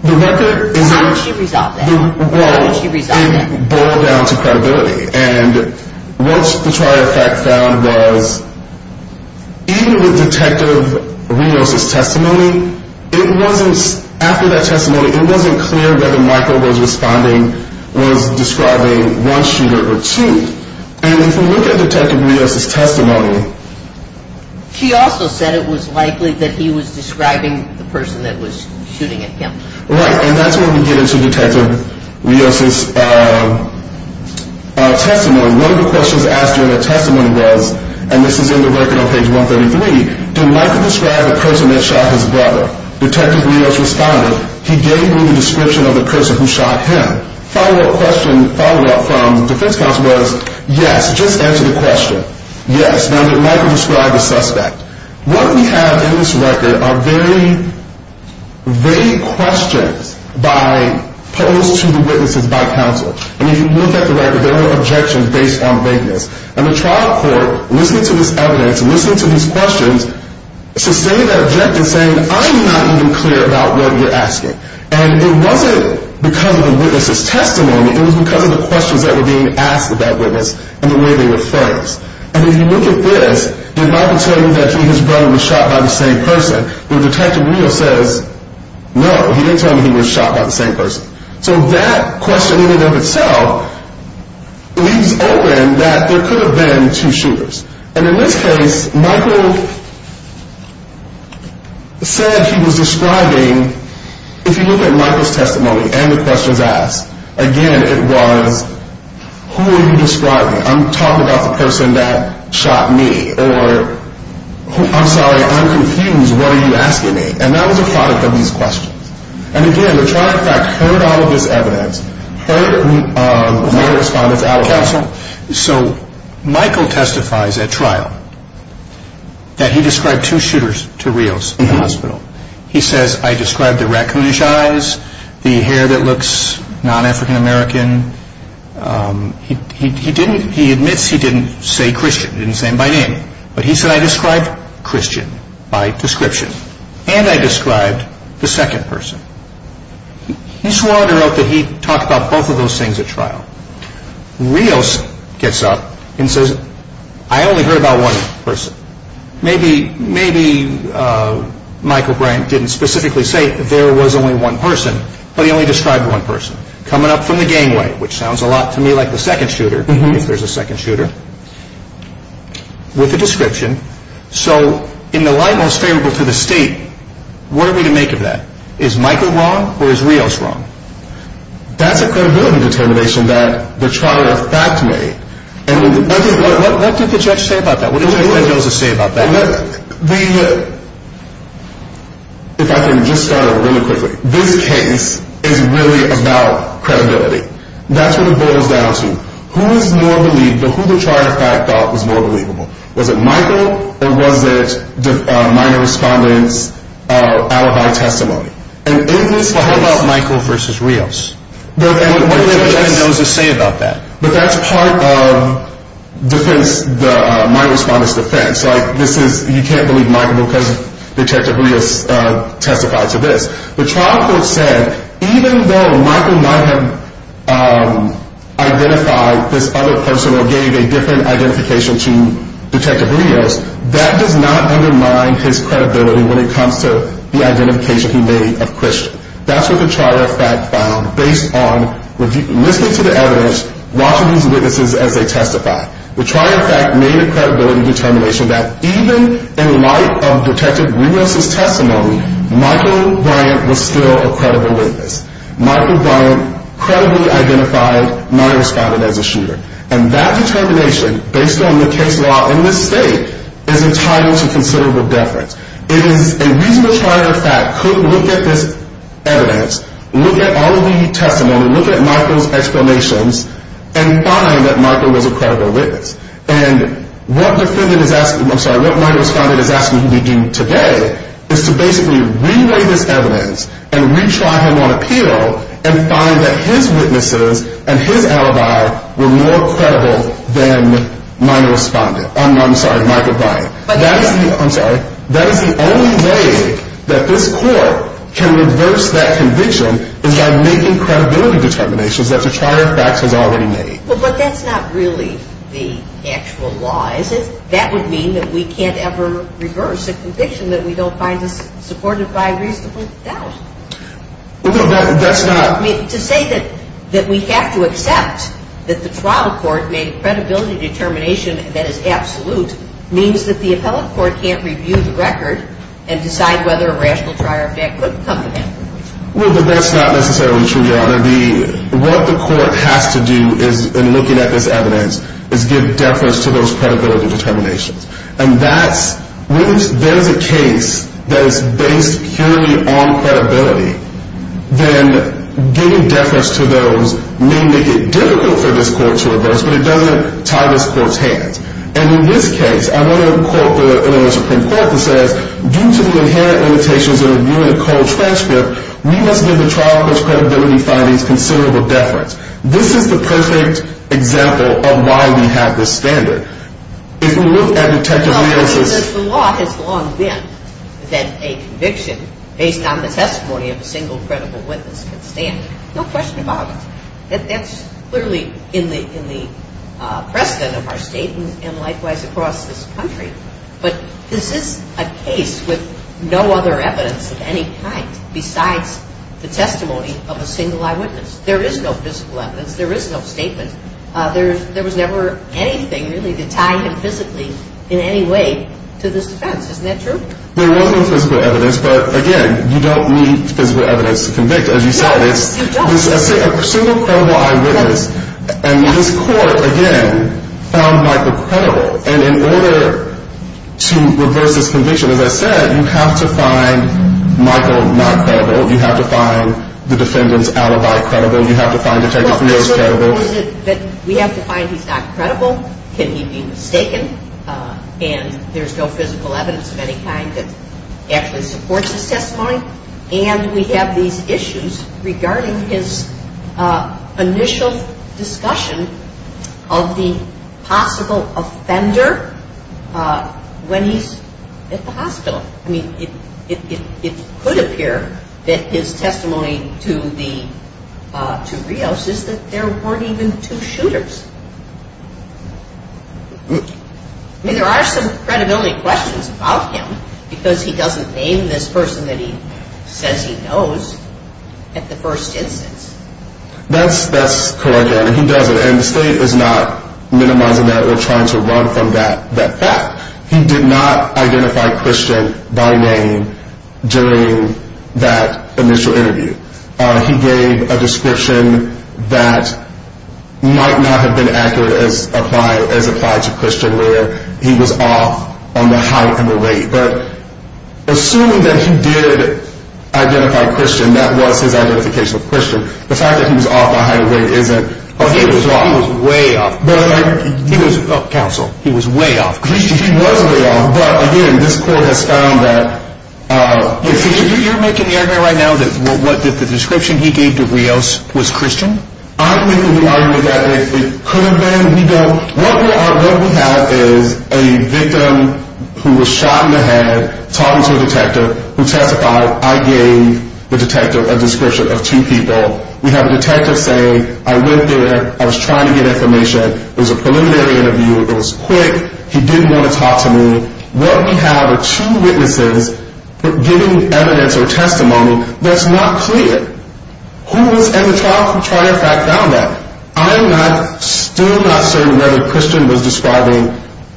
How did she resolve that? Well, it boiled down to credibility. And what the trial effect found was, even with Detective Rios' testimony, after that testimony, it wasn't clear whether Michael was responding, was describing one shooter or two. And if we look at Detective Rios' testimony... She also said it was likely that he was describing the person that was shooting at him. Right. And that's when we get into Detective Rios' testimony. One of the questions asked during the testimony was, and this is in the record on page 133, did Michael describe the person that shot his brother? Detective Rios responded, he gave me the description of the person who shot him. And the follow-up question, follow-up from the defense counsel was, yes, just answer the question. Yes, now did Michael describe the suspect? What we have in this record are very vague questions posed to the witnesses by counsel. And if you look at the record, there were objections based on vagueness. And the trial court, listening to this evidence, listening to these questions, sustained that objection saying, I'm not even clear about what you're asking. And it wasn't because of the witness' testimony. It was because of the questions that were being asked of that witness and the way they were phrased. And if you look at this, did Michael tell you that his brother was shot by the same person? Well, Detective Rios says, no, he didn't tell me he was shot by the same person. So that question in and of itself leaves open that there could have been two shooters. And in this case, Michael said he was describing, if you look at Michael's testimony and the questions asked, again, it was, who are you describing? I'm talking about the person that shot me. Or, I'm sorry, I'm confused. What are you asking me? And that was a product of these questions. And, again, the trial, in fact, heard all of this evidence, heard my response out loud. So Michael testifies at trial that he described two shooters to Rios in the hospital. He says, I described the raccoonish eyes, the hair that looks non-African American. He admits he didn't say Christian, didn't say him by name. But he said, I described Christian by description. And I described the second person. He swore under oath that he talked about both of those things at trial. Rios gets up and says, I only heard about one person. Maybe Michael Brandt didn't specifically say there was only one person, but he only described one person. Coming up from the gangway, which sounds a lot to me like the second shooter, if there's a second shooter, with a description. So in the light most favorable to the state, what are we to make of that? Is Michael wrong, or is Rios wrong? That's a credibility determination that the trial, in fact, made. What did the judge say about that? What did the judge say about that? If I can just start really quickly. This case is really about credibility. That's what it boils down to. Who is more believable? Who the trial, in fact, thought was more believable? Was it Michael, or was it minor respondent's alibi testimony? How about Michael versus Rios? What did the judge say about that? But that's part of minor respondent's defense. Like, you can't believe Michael because Detective Rios testified to this. The trial court said, even though Michael might have identified this other person or gave a different identification to Detective Rios, that does not undermine his credibility when it comes to the identification he made of Christian. That's what the trial, in fact, found based on listening to the evidence, watching these witnesses as they testify. The trial, in fact, made a credibility determination that even in light of Detective Rios' testimony, Michael Bryant was still a credible witness. Michael Bryant credibly identified minor respondent as a shooter. And that determination, based on the case law in this state, is entitled to considerable deference. It is a reason the trial, in fact, could look at this evidence, look at all of the testimony, look at Michael's explanations, and find that Michael was a credible witness. And what defendant is asking, I'm sorry, what minor respondent is asking me to do today is to basically relay this evidence and retry him on appeal and find that his witnesses and his alibi were more credible than minor respondent. I'm sorry, Michael Bryant. That is the only way that this court can reverse that conviction is by making credibility determinations that the trial, in fact, has already made. Well, but that's not really the actual law, is it? That would mean that we can't ever reverse a conviction that we don't find supported by reasonable doubt. Well, no, that's not. I mean, to say that we have to accept that the trial court made credibility determination that is absolute means that the appellate court can't review the record and decide whether a rational trial, in fact, could become the record. Well, but that's not necessarily true, Your Honor. What the court has to do in looking at this evidence is give deference to those credibility determinations. And when there's a case that is based purely on credibility, then giving deference to those may make it difficult for this court to reverse, but it doesn't tie this court's hands. And in this case, I want to quote the Supreme Court that says, due to the inherent limitations of reviewing a cold transcript, we must give the trial court's credibility findings considerable deference. This is the perfect example of why we have this standard. If we look at Detective Leo's- Well, I mean, the law has long been that a conviction based on the testimony of a single credible witness can stand. No question about it. That's clearly in the precedent of our state and likewise across this country. But this is a case with no other evidence of any kind besides the testimony of a single eyewitness. There is no physical evidence. There is no statement. There was never anything really to tie him physically in any way to this defense. Isn't that true? There was no physical evidence, but, again, you don't need physical evidence to convict. As you said, it's a single credible eyewitness. And this court, again, found Michael credible. And in order to reverse this conviction, as I said, you have to find Michael not credible. You have to find the defendant's alibi credible. You have to find Detective Leo's credible. We have to find he's not credible. Can he be mistaken? And there's no physical evidence of any kind that actually supports his testimony. And we have these issues regarding his initial discussion of the possible offender when he's at the hospital. I mean, it could appear that his testimony to Rios is that there weren't even two shooters. I mean, there are some credibility questions about him because he doesn't name this person that he says he knows at the first instance. That's correct, and he doesn't. And the state is not minimizing that or trying to run from that fact. He did not identify Christian by name during that initial interview. He gave a description that might not have been accurate as applied to Christian where he was off on the height and the weight. But assuming that he did identify Christian, that was his identification of Christian, the fact that he was off by height and weight isn't. He was way off. Counsel. He was way off. He was way off, but, again, this court has found that. You're making the argument right now that the description he gave to Rios was Christian? I'm making the argument that it could have been. What we have is a victim who was shot in the head talking to a detective who testified. I gave the detective a description of two people. We have a detective say, I went there. I was trying to get information. It was a preliminary interview. It was quick. He didn't want to talk to me. What we have are two witnesses giving evidence or testimony that's not clear. And the trial fact found that. I am still not certain whether Christian was describing,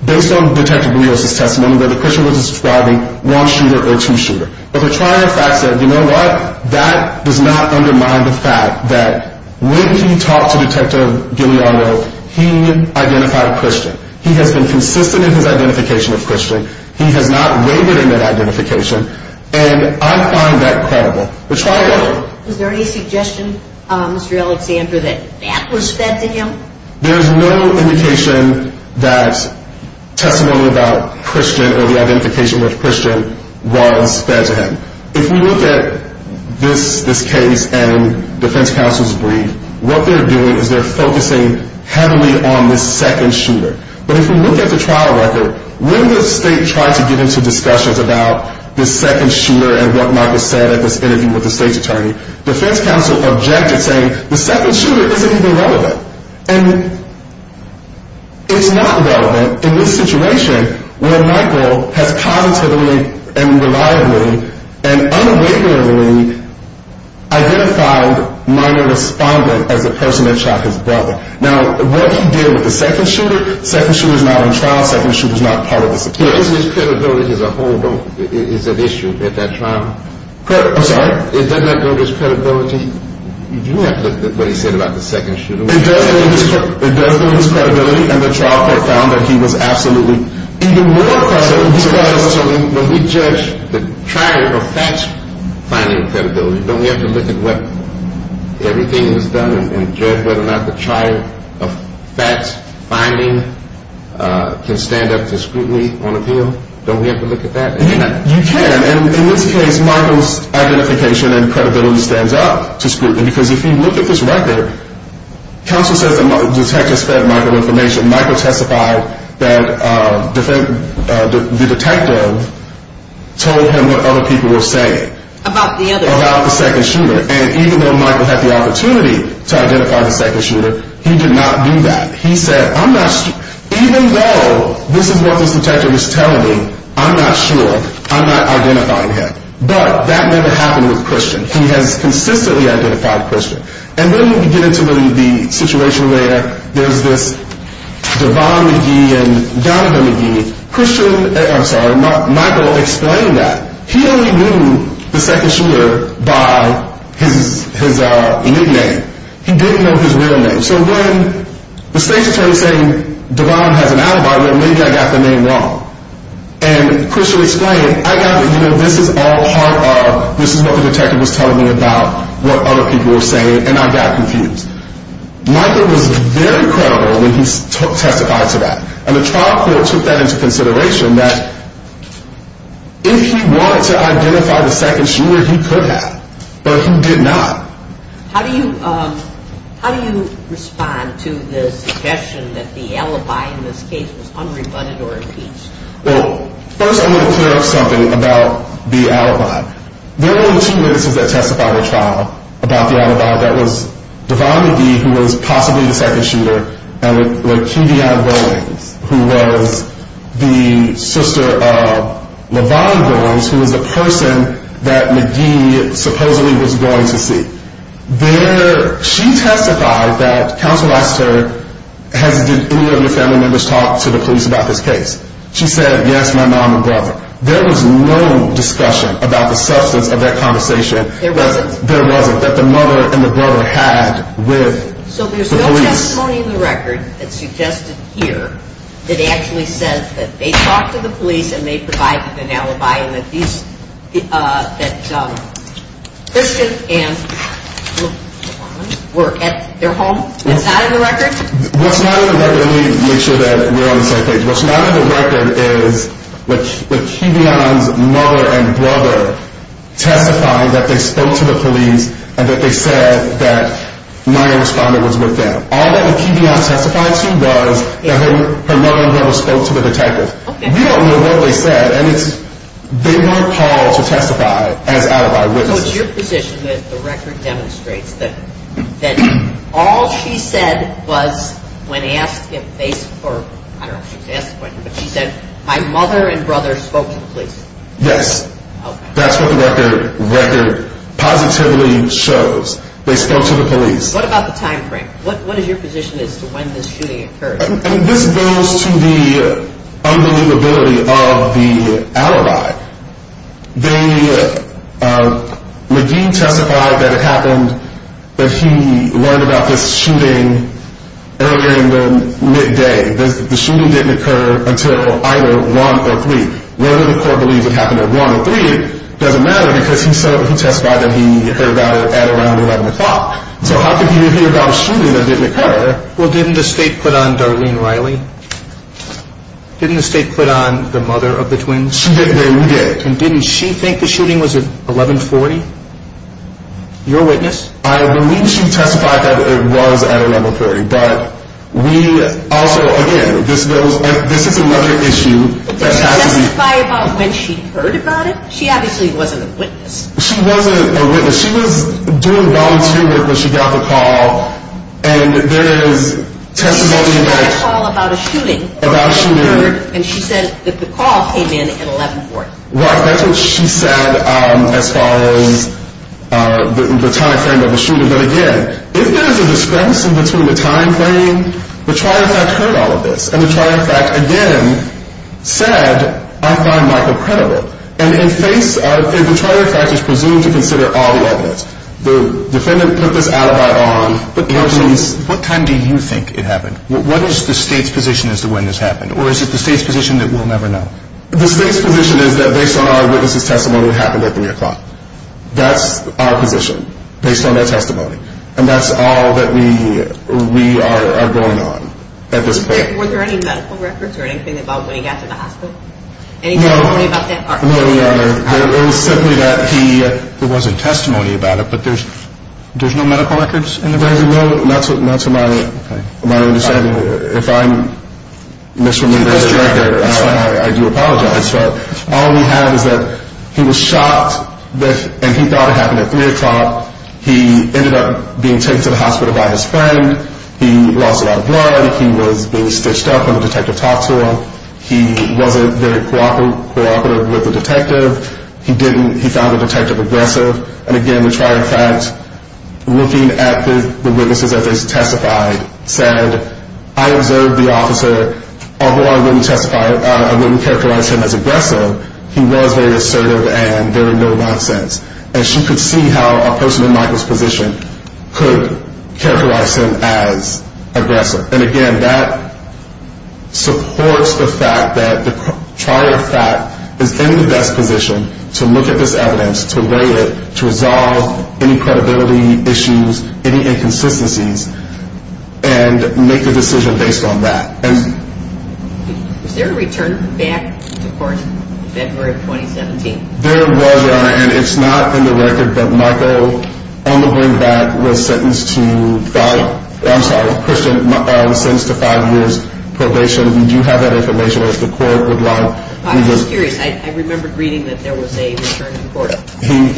based on Detective Rios' testimony, whether Christian was describing one shooter or two shooters. But the trial fact said, you know what, that does not undermine the fact that when he talked to Detective Guglielmo, he identified Christian. He has been consistent in his identification of Christian. He has not wavered in that identification. And I find that credible. Was there any suggestion, Mr. Alexander, that that was fed to him? There's no indication that testimony about Christian or the identification with Christian was fed to him. If we look at this case and defense counsel's brief, what they're doing is they're focusing heavily on this second shooter. But if we look at the trial record, when the state tried to get into discussions about this second shooter and what Michael said at this interview with the state's attorney, defense counsel objected, saying the second shooter isn't even relevant. And it's not relevant in this situation where Michael has positively and reliably and unwaveringly identified minor respondent as the person that shot his brother. Now, what he did with the second shooter, second shooter's not on trial, second shooter's not part of this appeal. Isn't his credibility as a whole an issue at that trial? I'm sorry? Doesn't that go to his credibility? You have to look at what he said about the second shooter. It does go to his credibility. And the trial court found that he was absolutely even more credible. So when we judge the trier of facts finding credibility, don't we have to look at what everything was done and judge whether or not the trier of facts finding can stand up to scrutiny on appeal? Don't we have to look at that? You can. And in this case, Michael's identification and credibility stands up to scrutiny. Because if you look at this record, counsel says the detectives fed Michael information. Michael testified that the detective told him what other people were saying. About the other shooter. About the second shooter. And even though Michael had the opportunity to identify the second shooter, he did not do that. Even though this is what this detective is telling me, I'm not sure. I'm not identifying him. But that never happened with Christian. He has consistently identified Christian. And when we get into the situation where there's this Devon McGee and Donovan McGee, Christian, I'm sorry, Michael explained that. He only knew the second shooter by his nickname. He didn't know his real name. So when the state's attorney is saying Devon has an alibi, well, maybe I got the name wrong. And Christian explained, I got the, you know, this is all part of, this is what the detective was telling me about what other people were saying. And I got confused. Michael was very credible when he testified to that. And the trial court took that into consideration, that if he wanted to identify the second shooter, he could have. But he did not. How do you respond to the suggestion that the alibi in this case was unrebutted or impeached? Well, first I want to clear up something about the alibi. There were only two witnesses that testified in the trial about the alibi. That was Devon McGee, who was possibly the second shooter, and Lakevia Williams, who was the sister of Levon Williams, who was the person that McGee supposedly was going to see. She testified that counsel asked her, did any of your family members talk to the police about this case? She said, yes, my mom and brother. There was no discussion about the substance of that conversation. There wasn't? There wasn't. That the mother and the brother had with the police. So there's no testimony in the record that suggested here that actually says that they talked to the police and they provided an alibi and that Christian and Levon were at their home? That's not in the record? That's not in the record. Let me make sure that we're on the same page. What's not in the record is Lakevia's mother and brother testifying that they spoke to the police and that they said that my responder was with them. All that Lakevia testified to was that her mother and brother spoke to the detective. We don't know what they said, and they weren't called to testify as alibi witnesses. So it's your position that the record demonstrates that all she said was when asked if they spoke, I don't know if she was asked when, but she said my mother and brother spoke to the police? Yes. Okay. That's what the record positively shows. They spoke to the police. What about the time frame? What is your position as to when this shooting occurred? This goes to the unbelievability of the alibi. McGee testified that it happened that he learned about this shooting earlier in the midday. The shooting didn't occur until either 1 or 3. Whether the court believes it happened at 1 or 3 doesn't matter because he testified that he heard about it at around 11 o'clock. So how could he hear about a shooting that didn't occur? Well, didn't the state put on Darlene Riley? Didn't the state put on the mother of the twins? She did. We did. And didn't she think the shooting was at 1140? You're a witness. I believe she testified that it was at 1130, but we also, again, this is another issue. Did she testify about when she heard about it? She obviously wasn't a witness. She wasn't a witness. She was doing volunteer work when she got the call, and there is testimony that ‑‑ She testified about a shooting. About a shooting. And she said that the call came in at 1140. Right. That's what she said as far as the timeframe of the shooting. But, again, if there's a discrepancy between the timeframe, the trial in fact heard all of this. And the trial in fact, again, said, I find Michael credible. And the trial in fact is presumed to consider all the evidence. The defendant put this alibi on. What time do you think it happened? What is the state's position as to when this happened? Or is it the state's position that we'll never know? The state's position is that based on our witnesses' testimony, it happened at 3 o'clock. That's our position based on their testimony. And that's all that we are going on at this point. Were there any medical records or anything about when he got to the hospital? Any testimony about that? No, Your Honor. It was simply that he – There wasn't testimony about it, but there's no medical records in the record? No, not to my understanding. If I'm misremembering this correctly, I do apologize. All we have is that he was shot, and he thought it happened at 3 o'clock. He ended up being taken to the hospital by his friend. He lost a lot of blood. He was being stitched up when the detective talked to him. He wasn't very cooperative with the detective. He found the detective aggressive. And, again, we try, in fact, looking at the witnesses that they testified, said, I observed the officer. Although I wouldn't characterize him as aggressive, he was very assertive and very no-nonsense. And she could see how a person in Michael's position could characterize him as aggressive. And, again, that supports the fact that the trial, in fact, is in the best position to look at this evidence, to weigh it, to resolve any credibility issues, any inconsistencies, and make a decision based on that. Was there a return back to court in February of 2017? There was, Your Honor, and it's not in the record. But Michael, on the way back, was sentenced to – I'm sorry, Christian was sentenced to five years probation. We do have that information. If the court would like – I'm just curious. I remember reading that there was a return to court. He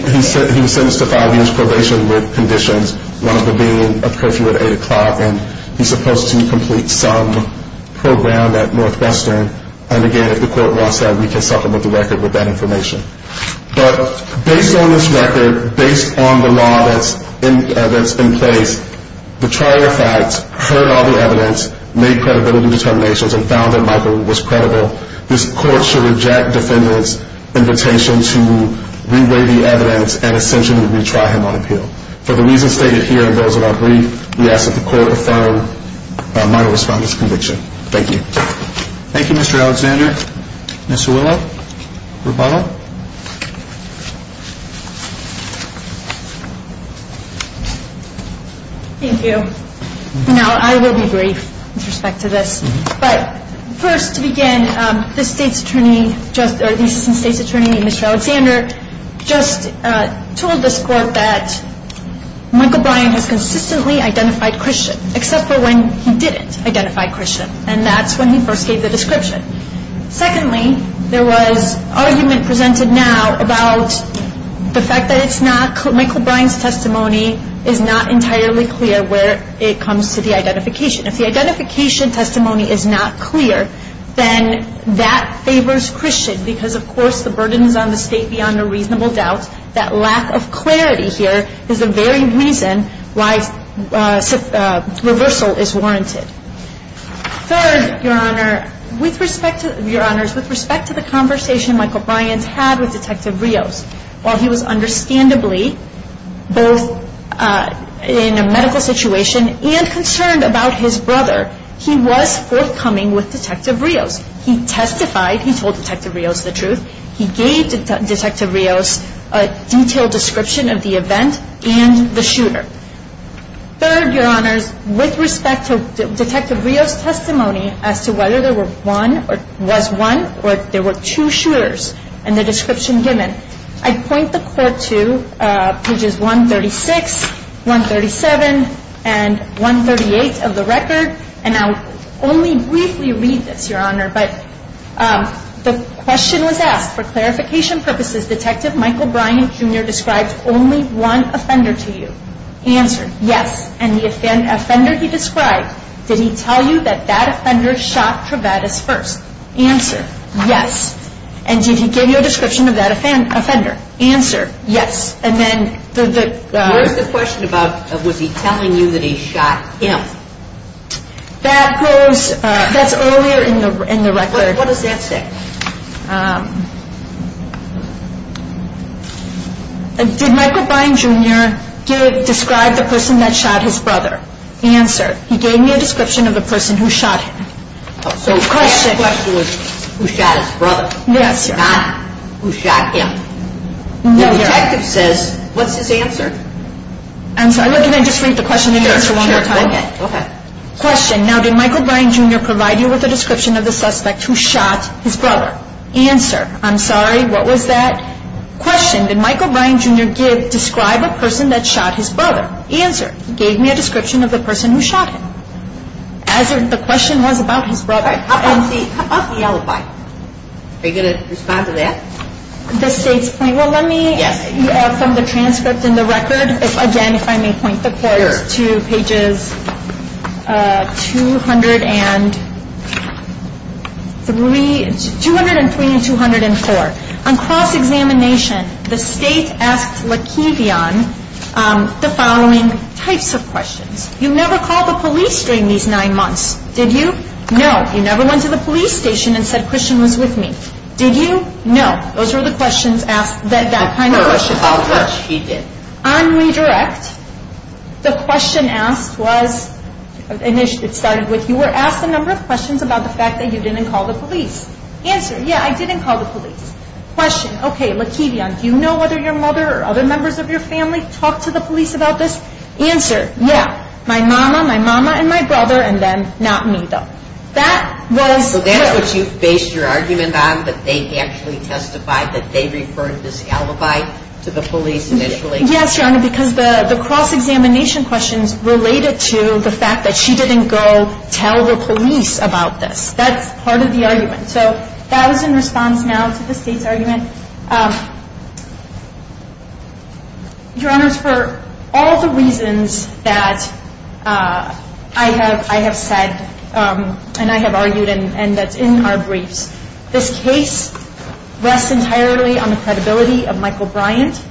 was sentenced to five years probation with conditions, one of them being a curfew at 8 o'clock. And he's supposed to complete some program at Northwestern. And, again, if the court wants that, we can supplement the record with that information. But based on this record, based on the law that's in place, the trial, in fact, heard all the evidence, made credibility determinations, and found that Michael was credible, this court should reject defendant's invitation to re-weigh the evidence and essentially retry him on appeal. For the reasons stated here and those in our brief, we ask that the court affirm Michael Respondent's conviction. Thank you. Thank you, Mr. Alexander. Mr. Willough, rebuttal. Thank you. Now, I will be brief with respect to this. But first, to begin, the state's attorney, or the assistant state's attorney, Mr. Alexander, just told this court that Michael Bryan has consistently identified Christian, except for when he didn't identify Christian, and that's when he first gave the description. Secondly, there was argument presented now about the fact that it's not – Michael Bryan's testimony is not entirely clear where it comes to the identification. If the identification testimony is not clear, then that favors Christian, because, of course, the burden is on the state beyond a reasonable doubt. That lack of clarity here is the very reason why reversal is warranted. Third, Your Honor, with respect to – Your Honors, with respect to the conversation Michael Bryan's had with Detective Rios, while he was understandably both in a medical situation and concerned about his brother, he was forthcoming with Detective Rios. He testified. He told Detective Rios the truth. He gave Detective Rios a detailed description of the event and the shooter. Third, Your Honors, with respect to Detective Rios' testimony as to whether there were one – was one or if there were two shooters and their description given, I'd point the court to pages 136, 137, and 138 of the record, and I'll only briefly read this, Your Honor, but the question was asked, for clarification purposes, Detective Michael Bryan, Jr. described only one offender to you. Answer, yes. And the offender he described, did he tell you that that offender shot Travatis first? Answer, yes. And did he give you a description of that offender? Answer, yes. And then the – Where's the question about was he telling you that he shot him? That goes – that's earlier in the record. What does that say? Did Michael Bryan, Jr. describe the person that shot his brother? Answer, he gave me a description of the person who shot him. So the question was who shot his brother. Yes, Your Honor. Not who shot him. No, Your Honor. The detective says, what's his answer? Answer, I'll look at it and just read the question again for one more time. Okay, okay. Question, now did Michael Bryan, Jr. provide you with a description of the suspect who shot his brother? Answer, I'm sorry, what was that question? Did Michael Bryan, Jr. describe a person that shot his brother? Answer, he gave me a description of the person who shot him. As the question was about his brother. How about the alibi? Are you going to respond to that? The state's point? Well, let me – Yes. From the transcript and the record, again, if I may point the court to pages 203 and 204. On cross-examination, the state asked Lekevion the following types of questions. You never called the police during these nine months, did you? No. You never went to the police station and said Christian was with me, did you? No. Those were the questions asked, that kind of question. On redirect, the question asked was, and it started with, you were asked a number of questions about the fact that you didn't call the police. Answer, yeah, I didn't call the police. Question, okay, Lekevion, do you know whether your mother or other members of your family talked to the police about this? Answer, yeah, my mama, my mama and my brother, and then not me, though. So that's what you based your argument on, that they actually testified, that they referred this alibi to the police initially? Yes, Your Honor, because the cross-examination questions related to the fact that she didn't go tell the police about this. That's part of the argument. Your Honor, for all the reasons that I have said and I have argued and that's in our briefs, this case rests entirely on the credibility of Michael Bryant,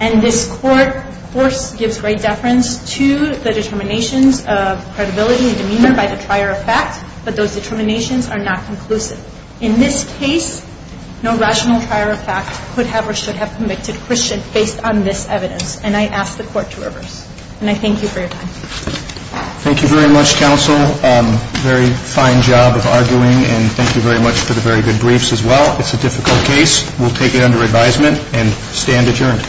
and this court, of course, gives great deference to the determinations of credibility and demeanor by the trier of fact, but those determinations are not conclusive. In this case, no rational trier of fact could have or should have convicted Christian based on this evidence, and I ask the court to reverse. And I thank you for your time. Thank you very much, counsel. Very fine job of arguing, and thank you very much for the very good briefs as well. It's a difficult case. We'll take it under advisement and stand adjourned.